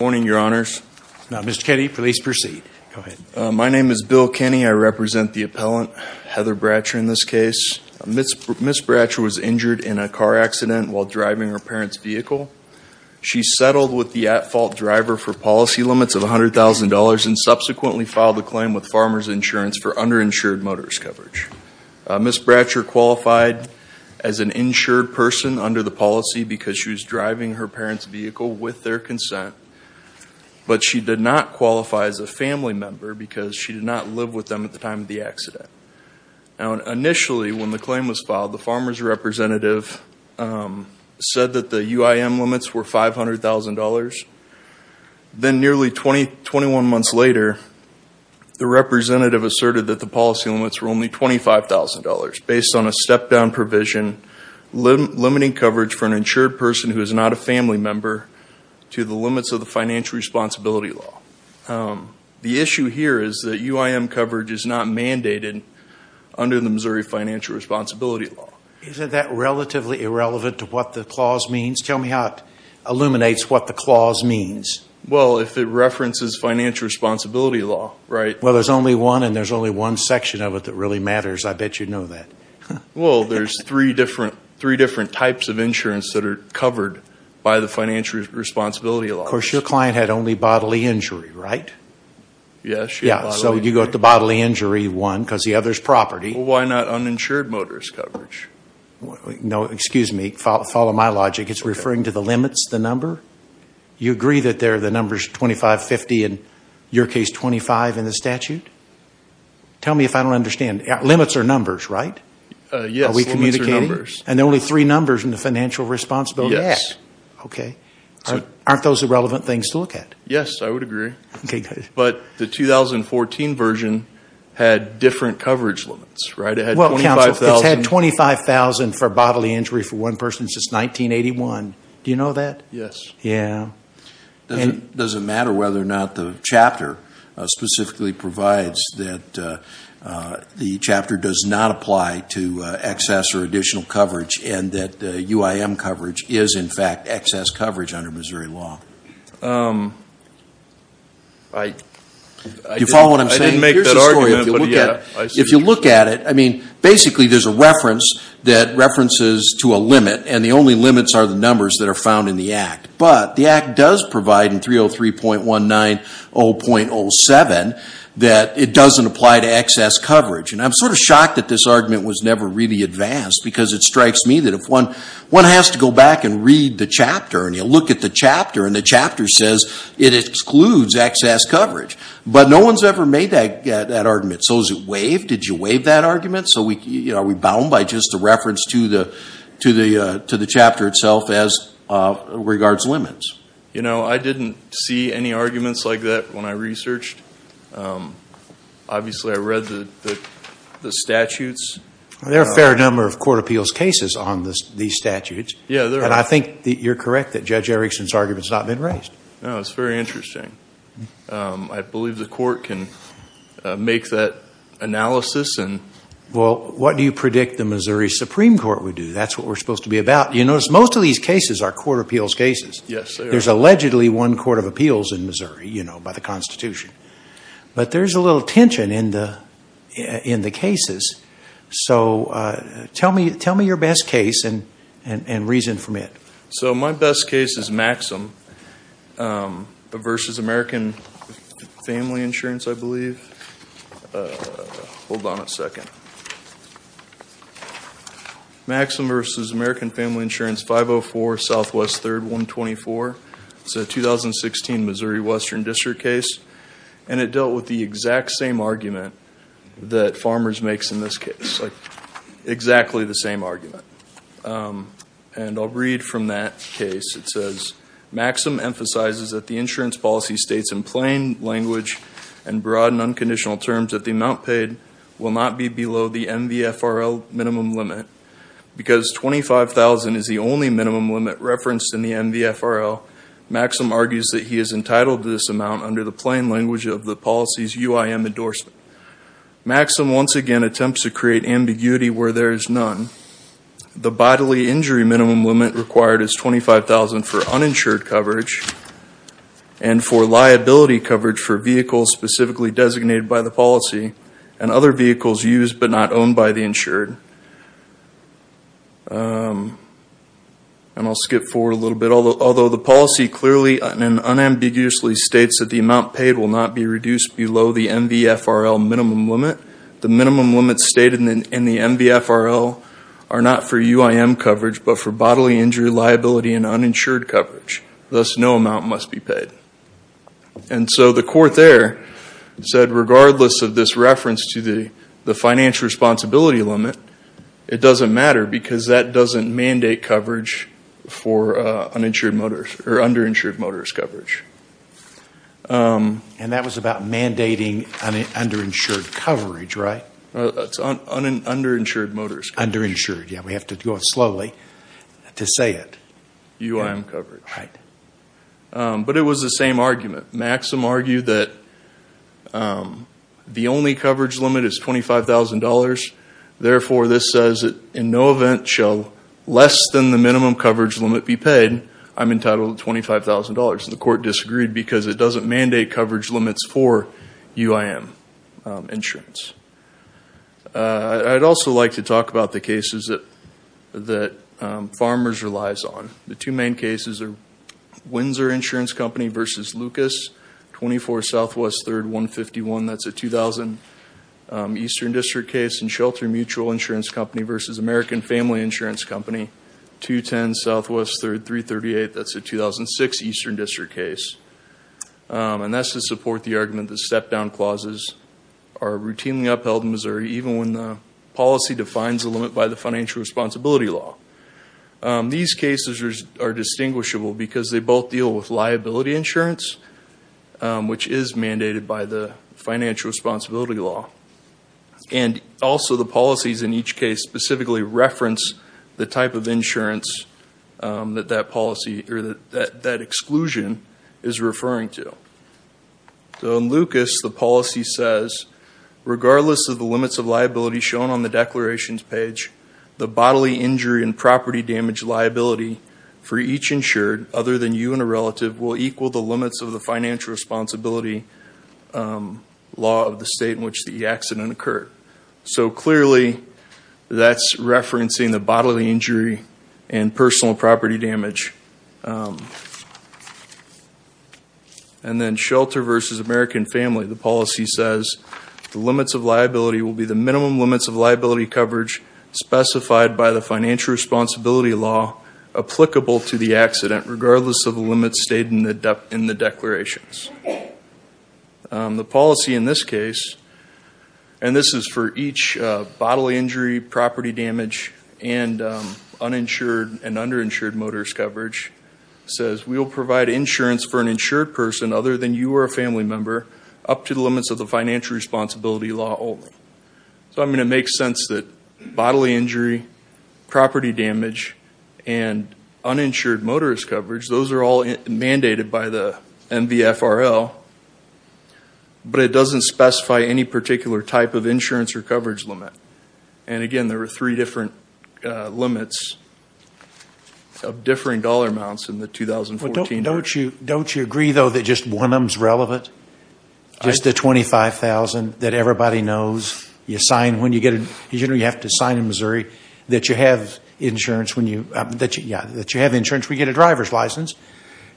Mr. Kenny, please proceed. My name is Bill Kenny. I represent the appellant, Heather Bratcher, in this case. Ms. Bratcher was injured in a car accident while driving her parents' vehicle. She settled with the at-fault driver for policy limits of $100,000 and subsequently filed a claim with Farmer's Insurance for underinsured motorist coverage. Ms. Bratcher qualified as an insured person under the policy because she was driving her parents' vehicle with their consent, but she did not qualify as a family member because she did not live with them at the time of the accident. Initially, when the claim was filed, the farmer's representative said that the UIM limits were $500,000. Then nearly 21 months later, the representative asserted that the policy limits were only $25,000 based on a step-down provision limiting coverage for an insured person who is not a family member to the limits of the financial responsibility law. The issue here is that UIM coverage is not mandated under the Missouri financial responsibility law. Isn't that relatively irrelevant to what the clause means? Tell me how it illuminates what the clause means. Well, if it references financial responsibility law, right? Well, there's only one and there's only one section of it that really matters. I bet you know that. Well, there's three different types of insurance that are covered by the financial responsibility law. Of course, your client had only bodily injury, right? Yes. So you got the bodily injury one because the other is property. Why not uninsured motorist coverage? No, excuse me. Follow my logic. It's referring to the limits, the number. You agree that there are the numbers 25, 50, and in your case 25 in the statute? Tell me if I don't understand. Limits are numbers, right? Yes, limits are numbers. Are we communicating? And there are only three numbers in the financial responsibility act. Yes. Okay. Aren't those irrelevant things to look at? Yes, I would agree. But the 2014 version had different coverage limits, right? Well, counsel, it's had $25,000 for bodily injury for one person since 1981. Do you know that? Yes. Yeah. Does it matter whether or not the chapter specifically provides that the chapter does not apply to excess or additional coverage and that UIM coverage is, in fact, excess coverage under Missouri law? I didn't make that argument, but, yeah. If you look at it, I mean, basically there's a reference that references to a limit, and the only limits are the numbers that are found in the act. But the act does provide in 303.190.07 that it doesn't apply to excess coverage. And I'm sort of shocked that this argument was never really advanced because it strikes me that if one has to go back and read the chapter and you look at the chapter and the chapter says it excludes excess coverage, but no one's ever made that argument. So is it waived? Did you waive that argument? So are we bound by just a reference to the chapter itself as regards limits? You know, I didn't see any arguments like that when I researched. Obviously, I read the statutes. There are a fair number of court appeals cases on these statutes. Yeah, there are. And I think you're correct that Judge Erickson's argument has not been raised. No, it's very interesting. I believe the court can make that analysis. Well, what do you predict the Missouri Supreme Court would do? That's what we're supposed to be about. You notice most of these cases are court appeals cases. Yes, they are. There's allegedly one court of appeals in Missouri, you know, by the Constitution. But there's a little tension in the cases. So tell me your best case and reason from it. So my best case is Maxim v. American Family Insurance, I believe. Hold on a second. Maxim v. American Family Insurance, 504 Southwest 3rd, 124. It's a 2016 Missouri Western District case. And it dealt with the exact same argument that Farmers makes in this case, like exactly the same argument. And I'll read from that case. It says, Maxim emphasizes that the insurance policy states in plain language and broad and unconditional terms that the amount paid will not be below the MVFRL minimum limit. Because $25,000 is the only minimum limit referenced in the MVFRL, Maxim argues that he is entitled to this amount under the plain language of the policy's UIM endorsement. Maxim once again attempts to create ambiguity where there is none. The bodily injury minimum limit required is $25,000 for uninsured coverage and for liability coverage for vehicles specifically designated by the policy and other vehicles used but not owned by the insured. And I'll skip forward a little bit. Although the policy clearly and unambiguously states that the amount paid will not be reduced below the MVFRL minimum limit, the minimum limits stated in the MVFRL are not for UIM coverage but for bodily injury liability and uninsured coverage. Thus, no amount must be paid. And so the court there said regardless of this reference to the financial responsibility limit, it doesn't matter because that doesn't mandate coverage for underinsured motorist coverage. And that was about mandating underinsured coverage, right? That's underinsured motorist coverage. Underinsured, yeah. We have to go slowly to say it. UIM coverage. Right. But it was the same argument. Maxim argued that the only coverage limit is $25,000. Therefore, this says that in no event shall less than the minimum coverage limit be paid. I'm entitled to $25,000. The court disagreed because it doesn't mandate coverage limits for UIM insurance. I'd also like to talk about the cases that Farmers relies on. The two main cases are Windsor Insurance Company v. Lucas, 24 Southwest 3rd, 151. That's a 2000 Eastern District case. And Shelter Mutual Insurance Company v. American Family Insurance Company, 210 Southwest 3rd, 338. That's a 2006 Eastern District case. And that's to support the argument that step-down clauses are routinely upheld in Missouri even when the policy defines a limit by the financial responsibility law. These cases are distinguishable because they both deal with liability insurance, which is mandated by the financial responsibility law. And also the policies in each case specifically reference the type of insurance that that exclusion is referring to. So in Lucas, the policy says, regardless of the limits of liability shown on the declarations page, the bodily injury and property damage liability for each insured other than you and a relative will equal the limits of the financial responsibility law of the state in which the accident occurred. So clearly that's referencing the bodily injury and personal property damage. And then Shelter v. American Family, the policy says, the limits of liability will be the minimum limits of liability coverage specified by the financial responsibility law applicable to the accident regardless of the limits stated in the declarations. The policy in this case, and this is for each bodily injury, property damage, and uninsured and underinsured motorist coverage, says, we will provide insurance for an insured person other than you or a family member up to the limits of the financial responsibility law only. So, I mean, it makes sense that bodily injury, property damage, and uninsured motorist coverage, those are all mandated by the MVFRL, but it doesn't specify any particular type of insurance or coverage limit. And, again, there are three different limits of differing dollar amounts in the 2014. Don't you agree, though, that just one of them is relevant? Just the $25,000 that everybody knows you sign when you get a, you know, you have to sign in Missouri, that you have insurance when you, yeah, that you have insurance when you get a driver's license.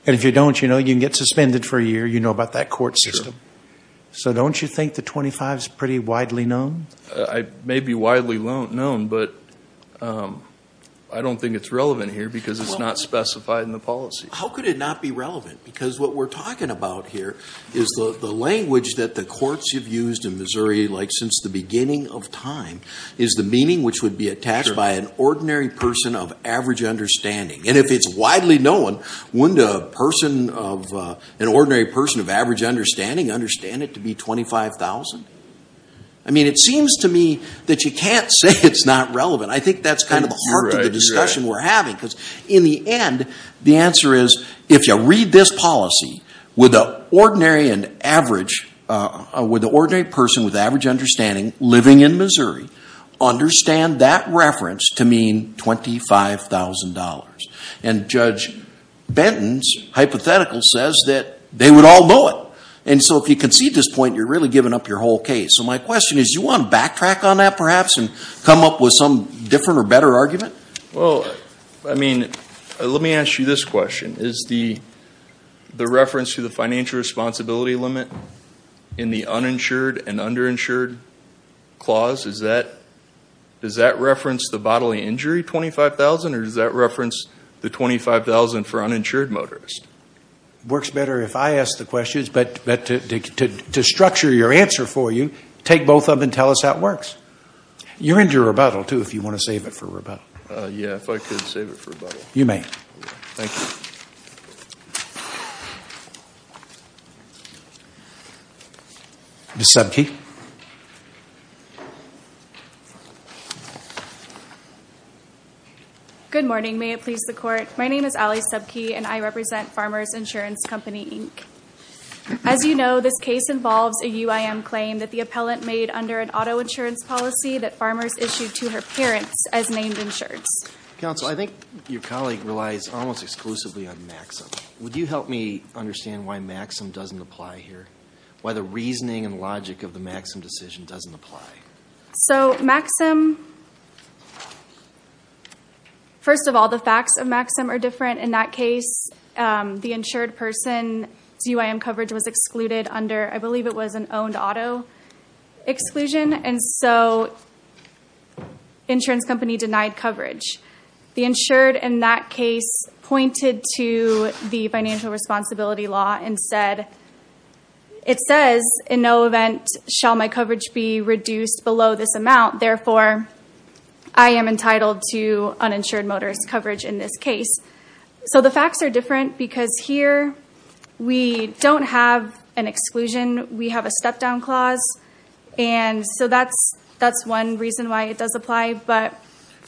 And if you don't, you know, you can get suspended for a year, you know about that court system. So don't you think the 25 is pretty widely known? It may be widely known, but I don't think it's relevant here because it's not specified in the policy. How could it not be relevant? Because what we're talking about here is the language that the courts have used in Missouri, like since the beginning of time, is the meaning which would be attached by an ordinary person of average understanding. And if it's widely known, wouldn't a person of, an ordinary person of average understanding, understand it to be $25,000? I mean, it seems to me that you can't say it's not relevant. I think that's kind of the heart of the discussion we're having because in the end, the answer is if you read this policy, would the ordinary and average, would the ordinary person with average understanding living in Missouri understand that reference to mean $25,000? And Judge Benton's hypothetical says that they would all know it. And so if you concede this point, you're really giving up your whole case. So my question is, do you want to backtrack on that perhaps and come up with some different or better argument? Well, I mean, let me ask you this question. Is the reference to the financial responsibility limit in the uninsured and underinsured clause, does that reference the bodily injury $25,000 or does that reference the $25,000 for uninsured motorists? Works better if I ask the questions, but to structure your answer for you, take both of them and tell us how it works. You're into rebuttal, too, if you want to save it for rebuttal. Yeah, if I could save it for rebuttal. You may. Thank you. Ms. Subke. Good morning. May it please the Court. My name is Ali Subke, and I represent Farmers Insurance Company, Inc. As you know, this case involves a UIM claim that the appellant made under an auto insurance policy that farmers issued to her parents as named insureds. Counsel, I think your colleague relies almost exclusively on Maxim. Would you help me understand why Maxim doesn't apply here, why the reasoning and logic of the Maxim decision doesn't apply? So Maxim, first of all, the facts of Maxim are different. In that case, the insured person's UIM coverage was excluded under, I believe it was an owned auto exclusion, and so insurance company denied coverage. The insured in that case pointed to the financial responsibility law and said, it says, in no event shall my coverage be reduced below this amount. Therefore, I am entitled to uninsured motorist coverage in this case. So the facts are different because here we don't have an exclusion. We have a step-down clause, and so that's one reason why it does apply. But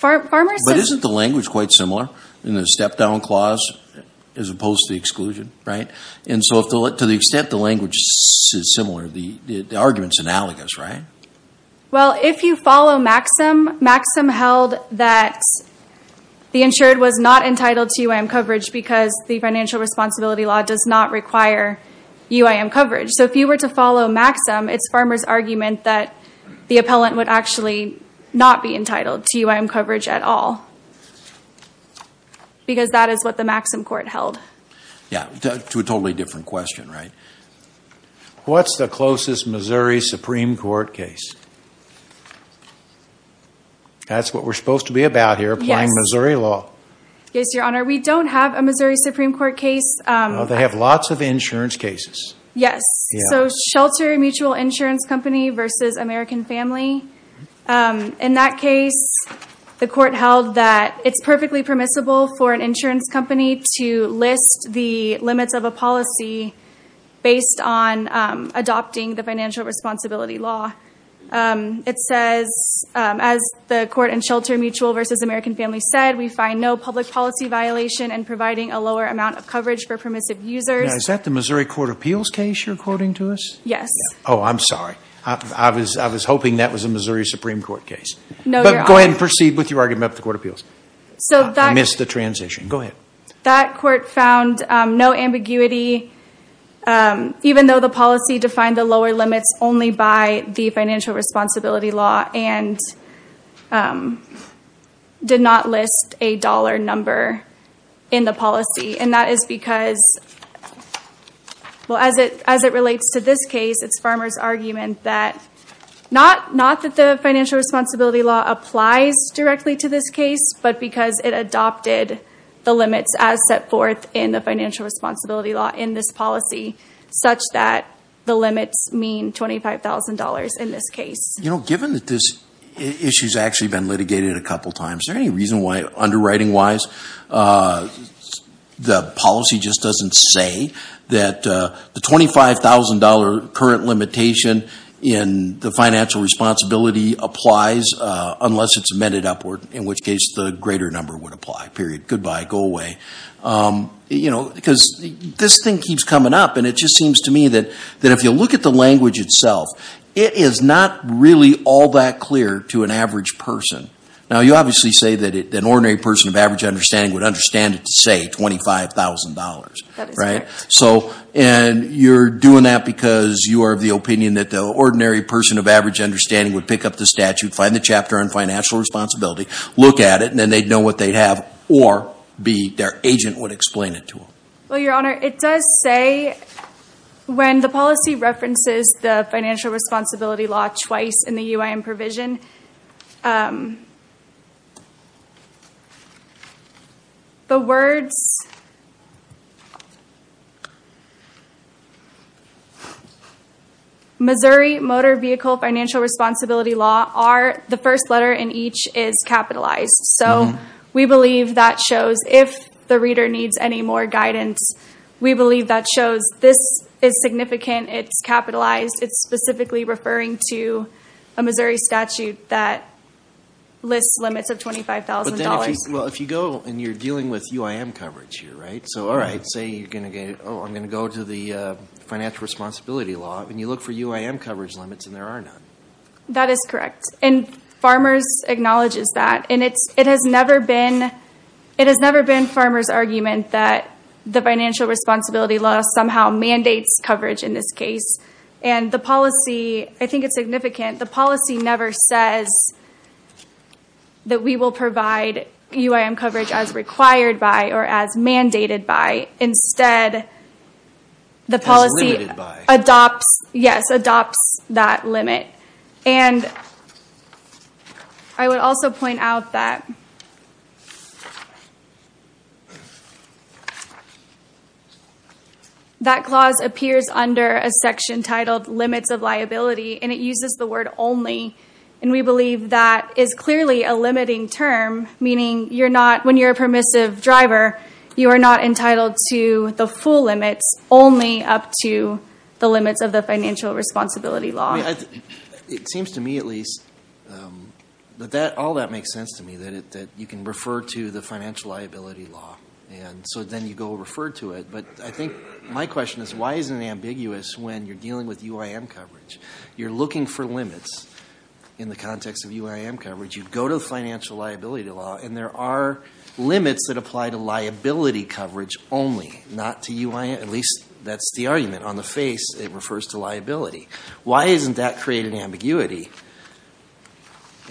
isn't the language quite similar in the step-down clause as opposed to the exclusion, right? And so to the extent the language is similar, the argument is analogous, right? Well, if you follow Maxim, Maxim held that the insured was not entitled to UIM coverage because the financial responsibility law does not require UIM coverage. So if you were to follow Maxim, it's farmers' argument that the appellant would actually not be entitled to UIM coverage at all because that is what the Maxim court held. Yeah, to a totally different question, right? What's the closest Missouri Supreme Court case? That's what we're supposed to be about here, applying Missouri law. Yes, Your Honor, we don't have a Missouri Supreme Court case. No, they have lots of insurance cases. Yes, so Shelter Mutual Insurance Company v. American Family. In that case, the court held that it's perfectly permissible for an insurance company to list the limits of a policy based on adopting the financial responsibility law. It says, as the court in Shelter Mutual v. American Family said, we find no public policy violation in providing a lower amount of coverage for permissive users. Now, is that the Missouri Court of Appeals case you're quoting to us? Yes. Oh, I'm sorry. I was hoping that was a Missouri Supreme Court case. Go ahead and proceed with your argument with the Court of Appeals. I missed the transition. Go ahead. That court found no ambiguity, even though the policy defined the lower limits only by the financial responsibility law and did not list a dollar number in the policy. And that is because, well, as it relates to this case, it's Farmer's argument that not that the financial responsibility law applies directly to this case, but because it adopted the limits as set forth in the financial responsibility law in this policy, such that the limits mean $25,000 in this case. You know, given that this issue's actually been litigated a couple times, is there any reason why, underwriting-wise, the policy just doesn't say that the $25,000 current limitation in the financial responsibility applies unless it's amended upward, in which case the greater number would apply, period, goodbye, go away? You know, because this thing keeps coming up, and it just seems to me that if you look at the language itself, it is not really all that clear to an average person. Now, you obviously say that an ordinary person of average understanding would understand it to say $25,000, right? That is correct. Well, Your Honor, it does say, when the policy references the financial responsibility law twice in the UIN provision, the words, Missouri Motor Vehicle Financial Responsibility Law, the first letter in each is capitalized. So, we believe that shows, if the reader needs any more guidance, we believe that shows this is significant, it's capitalized, it's specifically referring to a Missouri statute that lists limits of $25,000. But then, if you go, and you're dealing with UIM coverage here, right? So, all right, say you're going to go to the financial responsibility law, and you look for UIM coverage limits, and there are none. That is correct. And Farmers acknowledges that. And it has never been Farmers' argument that the financial responsibility law somehow mandates coverage in this case. And the policy, I think it's significant, the policy never says that we will provide UIM coverage as required by, or as mandated by. Instead, the policy adopts that limit. And I would also point out that that clause appears under a section titled limits of liability, and it uses the word only. And we believe that is clearly a limiting term, meaning you're not, when you're a permissive driver, you are not entitled to the full limits, only up to the limits of the financial responsibility law. It seems to me, at least, that all that makes sense to me, that you can refer to the financial liability law. And so then you go refer to it. But I think my question is, why is it ambiguous when you're dealing with UIM coverage? You're looking for limits in the context of UIM coverage. You go to the financial liability law, and there are limits that apply to liability coverage only, not to UIM. At least, that's the argument. On the face, it refers to liability. Why isn't that creating ambiguity?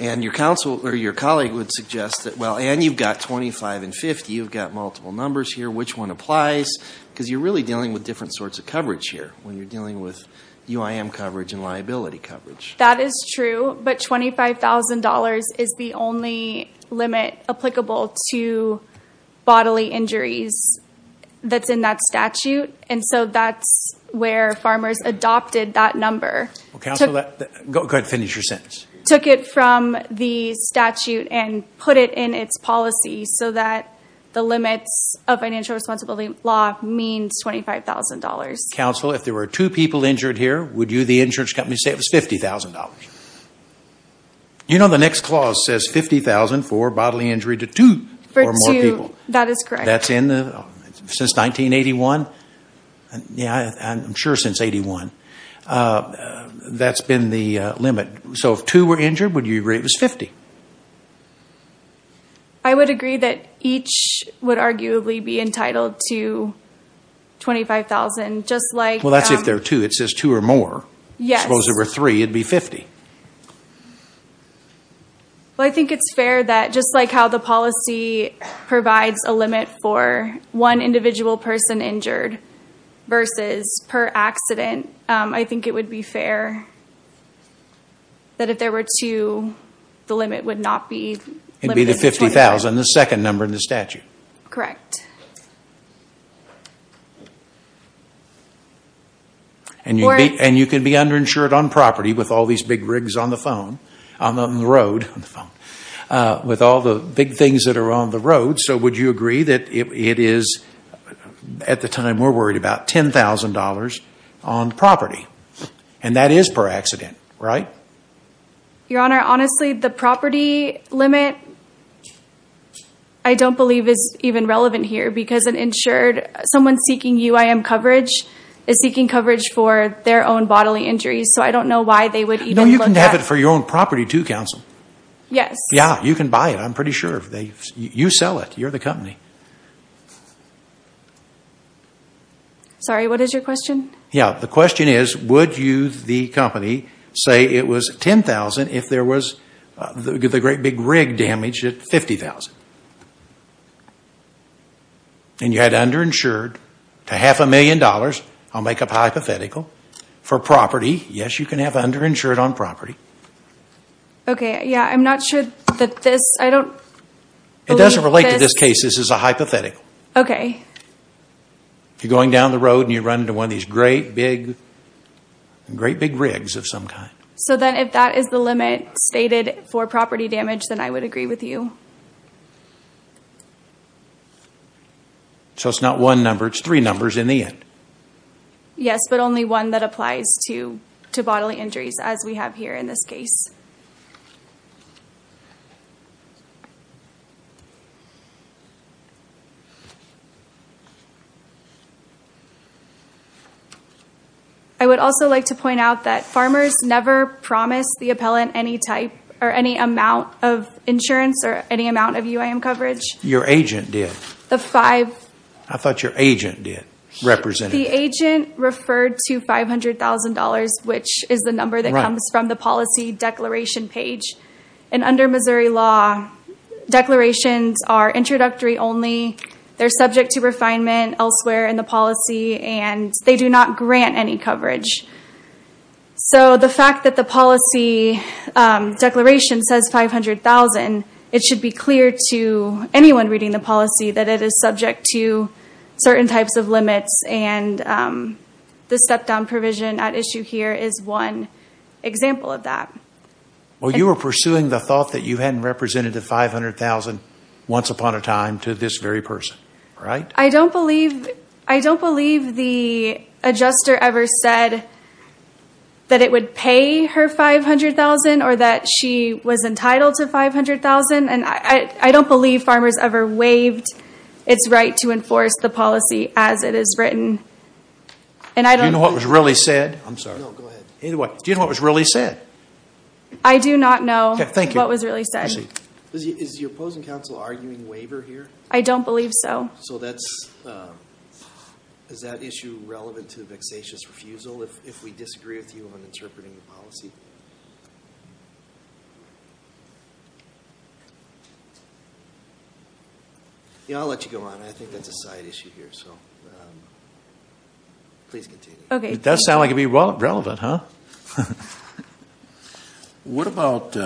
And your colleague would suggest that, well, and you've got 25 and 50. You've got multiple numbers here. Which one applies? Because you're really dealing with different sorts of coverage here when you're dealing with UIM coverage and liability coverage. That is true. But $25,000 is the only limit applicable to bodily injuries that's in that statute. And so that's where farmers adopted that number. Counsel, go ahead and finish your sentence. Took it from the statute and put it in its policy so that the limits of financial responsibility law means $25,000. Counsel, if there were two people injured here, would you, the insurance company, say it was $50,000? You know the next clause says $50,000 for bodily injury to two or more people. That is correct. That's in the, since 1981? Yeah, I'm sure since 81. That's been the limit. So if two were injured, would you agree it was 50? I would agree that each would arguably be entitled to $25,000. Well, that's if there are two. It says two or more. Yes. Suppose there were three. It would be 50. Well, I think it's fair that just like how the policy provides a limit for one individual person injured versus per accident, I think it would be fair that if there were two, the limit would not be the $50,000. It would be the $50,000, the second number in the statute. Correct. And you can be underinsured on property with all these big rigs on the phone, on the road, with all the big things that are on the road. And so would you agree that it is, at the time we're worried about, $10,000 on property? And that is per accident, right? Your Honor, honestly, the property limit I don't believe is even relevant here because an insured, someone seeking UIM coverage is seeking coverage for their own bodily injuries. So I don't know why they would even look at. No, you can have it for your own property too, counsel. Yes. Yeah, you can buy it. I'm pretty sure. You sell it. You're the company. Sorry, what is your question? Yeah, the question is would you, the company, say it was $10,000 if there was the great big rig damage at $50,000? And you had underinsured to half a million dollars, I'll make a hypothetical, for property. Yes, you can have underinsured on property. Okay, yeah, I'm not sure that this, I don't believe this. It doesn't relate to this case. This is a hypothetical. Okay. If you're going down the road and you run into one of these great big, great big rigs of some kind. So then if that is the limit stated for property damage, then I would agree with you. So it's not one number, it's three numbers in the end. Yes, but only one that applies to bodily injuries as we have here in this case. I would also like to point out that farmers never promise the appellant any type or any amount of insurance or any amount of UIM coverage. Your agent did. The five. I thought your agent did, represented. The agent referred to $500,000, which is the number that comes from the policy declaration page. And under Missouri law, declarations are introductory only. They're subject to refinement elsewhere in the policy, and they do not grant any coverage. So the fact that the policy declaration says $500,000, it should be clear to anyone reading the policy that it is subject to certain types of limits. And the step-down provision at issue here is one example of that. Well, you were pursuing the thought that you hadn't represented the $500,000 once upon a time to this very person, right? I don't believe the adjuster ever said that it would pay her $500,000 or that she was entitled to $500,000. And I don't believe farmers ever waived its right to enforce the policy as it is written. Do you know what was really said? No, go ahead. Do you know what was really said? I do not know what was really said. Is the opposing counsel arguing waiver here? I don't believe so. So is that issue relevant to the vexatious refusal if we disagree with you on interpreting the policy? Yeah, I'll let you go on. I think that's a side issue here, so please continue. Okay. It does sound like it would be relevant, huh? What about,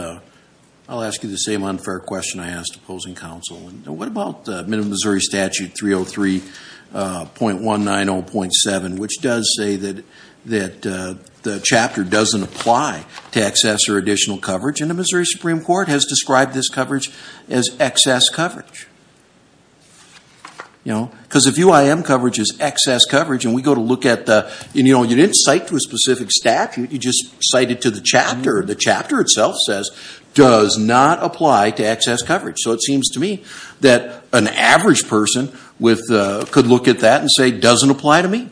I'll ask you the same unfair question I asked opposing counsel. What about the Minnesota statute 303.190.7, which does say that the chapter doesn't apply to excess or additional coverage, and the Missouri Supreme Court has described this coverage as excess coverage. You know, because if UIM coverage is excess coverage and we go to look at the, you know, you didn't cite to a specific statute. You just cited to the chapter. The chapter itself says, does not apply to excess coverage. So it seems to me that an average person could look at that and say, doesn't apply to me.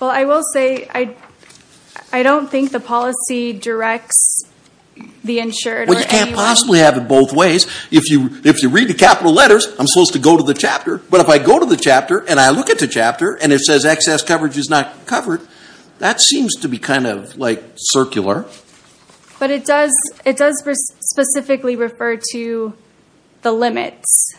Well, I will say I don't think the policy directs the insured or anyone. Well, you can't possibly have it both ways. If you read the capital letters, I'm supposed to go to the chapter. But if I go to the chapter and I look at the chapter and it says excess coverage is not covered, that seems to be kind of like circular. But it does specifically refer to the limits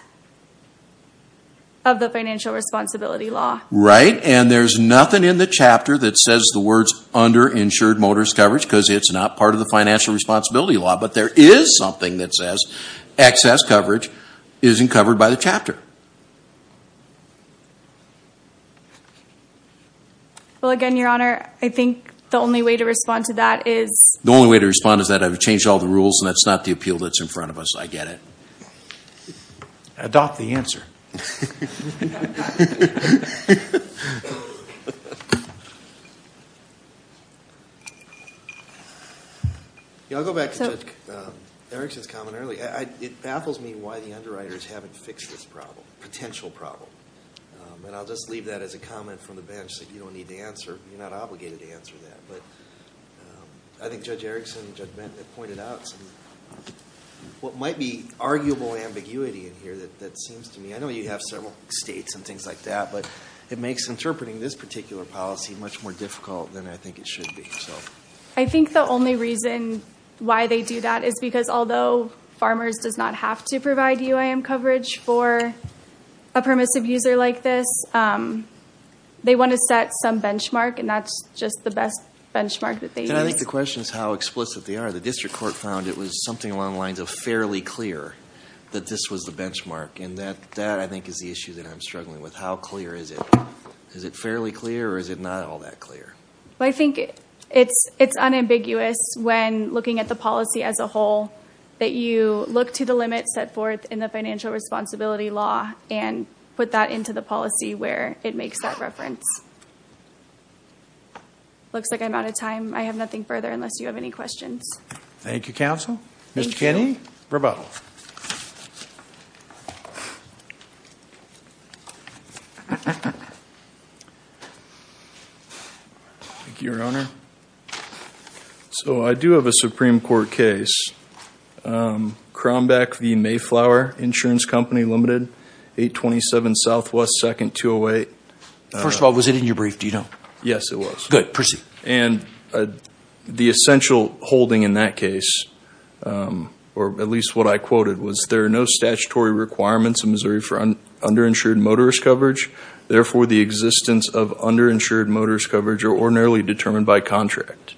of the financial responsibility law. Right. And there's nothing in the chapter that says the words underinsured motorist coverage because it's not part of the financial responsibility law. But there is something that says excess coverage isn't covered by the chapter. Well, again, Your Honor, I think the only way to respond to that is... The only way to respond is that I've changed all the rules and that's not the appeal that's in front of us. I get it. Adopt the answer. I'll go back to Judge Erickson's comment earlier. It baffles me why the underwriters haven't fixed this problem, potential problem. And I'll just leave that as a comment from the bench that you don't need to answer. You're not obligated to answer that. But I think Judge Erickson and Judge Benton have pointed out some of what might be arguable ambiguity in here that seems to me. I know you have a lot of experience. You have several states and things like that. But it makes interpreting this particular policy much more difficult than I think it should be. I think the only reason why they do that is because although Farmers does not have to provide UIM coverage for a permissive user like this, they want to set some benchmark and that's just the best benchmark that they use. And I think the question is how explicit they are. The district court found it was something along the lines of fairly clear that this was the benchmark. And that, I think, is the issue that I'm struggling with. How clear is it? Is it fairly clear or is it not all that clear? I think it's unambiguous when looking at the policy as a whole that you look to the limits set forth in the financial responsibility law and put that into the policy where it makes that reference. Looks like I'm out of time. I have nothing further unless you have any questions. Thank you, counsel. Thank you. Any rebuttal? Thank you, Your Honor. So I do have a Supreme Court case. Crombeck v. Mayflower Insurance Company Limited, 827 Southwest 2nd, 208. First of all, was it in your brief, do you know? Yes, it was. Good. Proceed. And the essential holding in that case, or at least what I quoted, was there are no statutory requirements in Missouri for underinsured motorist coverage. Therefore, the existence of underinsured motorist coverage are ordinarily determined by contract.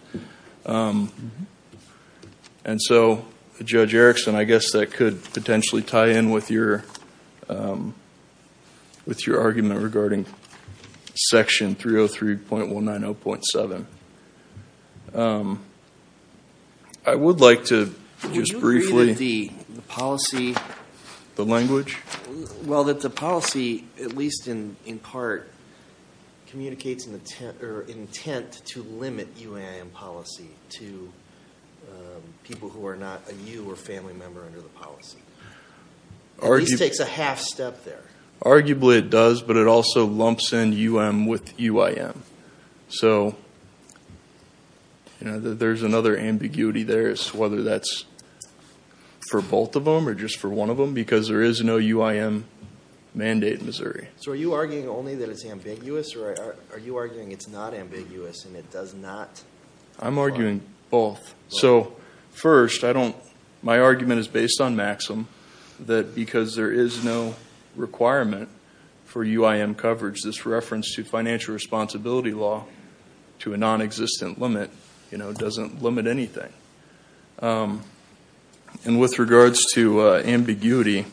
And so, Judge Erickson, I guess that could potentially tie in with your argument regarding Section 303.190.7. I would like to just briefly... Would you agree that the policy... The language? ...to people who are not a you or family member under the policy? At least takes a half step there. Arguably it does, but it also lumps in UM with UIM. So there's another ambiguity there as to whether that's for both of them or just for one of them, because there is no UIM mandate in Missouri. So are you arguing only that it's ambiguous, or are you arguing it's not ambiguous and it does not... I'm arguing both. So, first, my argument is based on Maxim, that because there is no requirement for UIM coverage, this reference to financial responsibility law to a nonexistent limit doesn't limit anything. And with regards to ambiguity,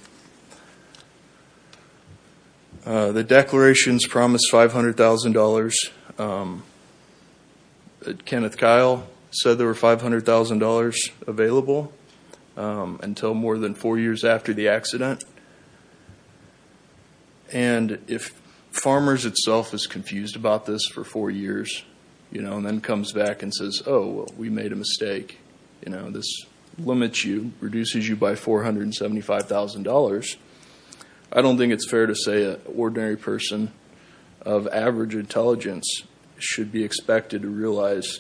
the declarations promise $500,000. Kenneth Kyle said there were $500,000 available until more than four years after the accident. And if Farmers itself is confused about this for four years, and then comes back and says, oh, we made a mistake, this limits you, reduces you by $475,000, I don't think it's fair to say an ordinary person of average intelligence should be expected to realize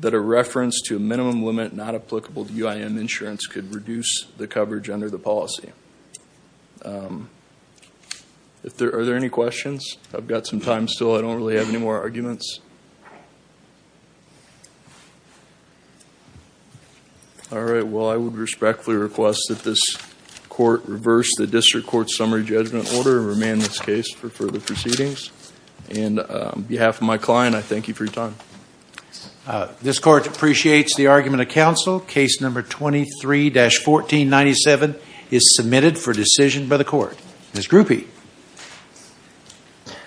that a reference to a minimum limit not applicable to UIM insurance could reduce the coverage under the policy. Are there any questions? I've got some time still. I don't really have any more arguments. All right. Well, I would respectfully request that this court reverse the district court summary judgment order and remand this case for further proceedings. And on behalf of my client, I thank you for your time. This court appreciates the argument of counsel. Case number 23-1497 is submitted for decision by the court. Ms. Grupe. Thank you.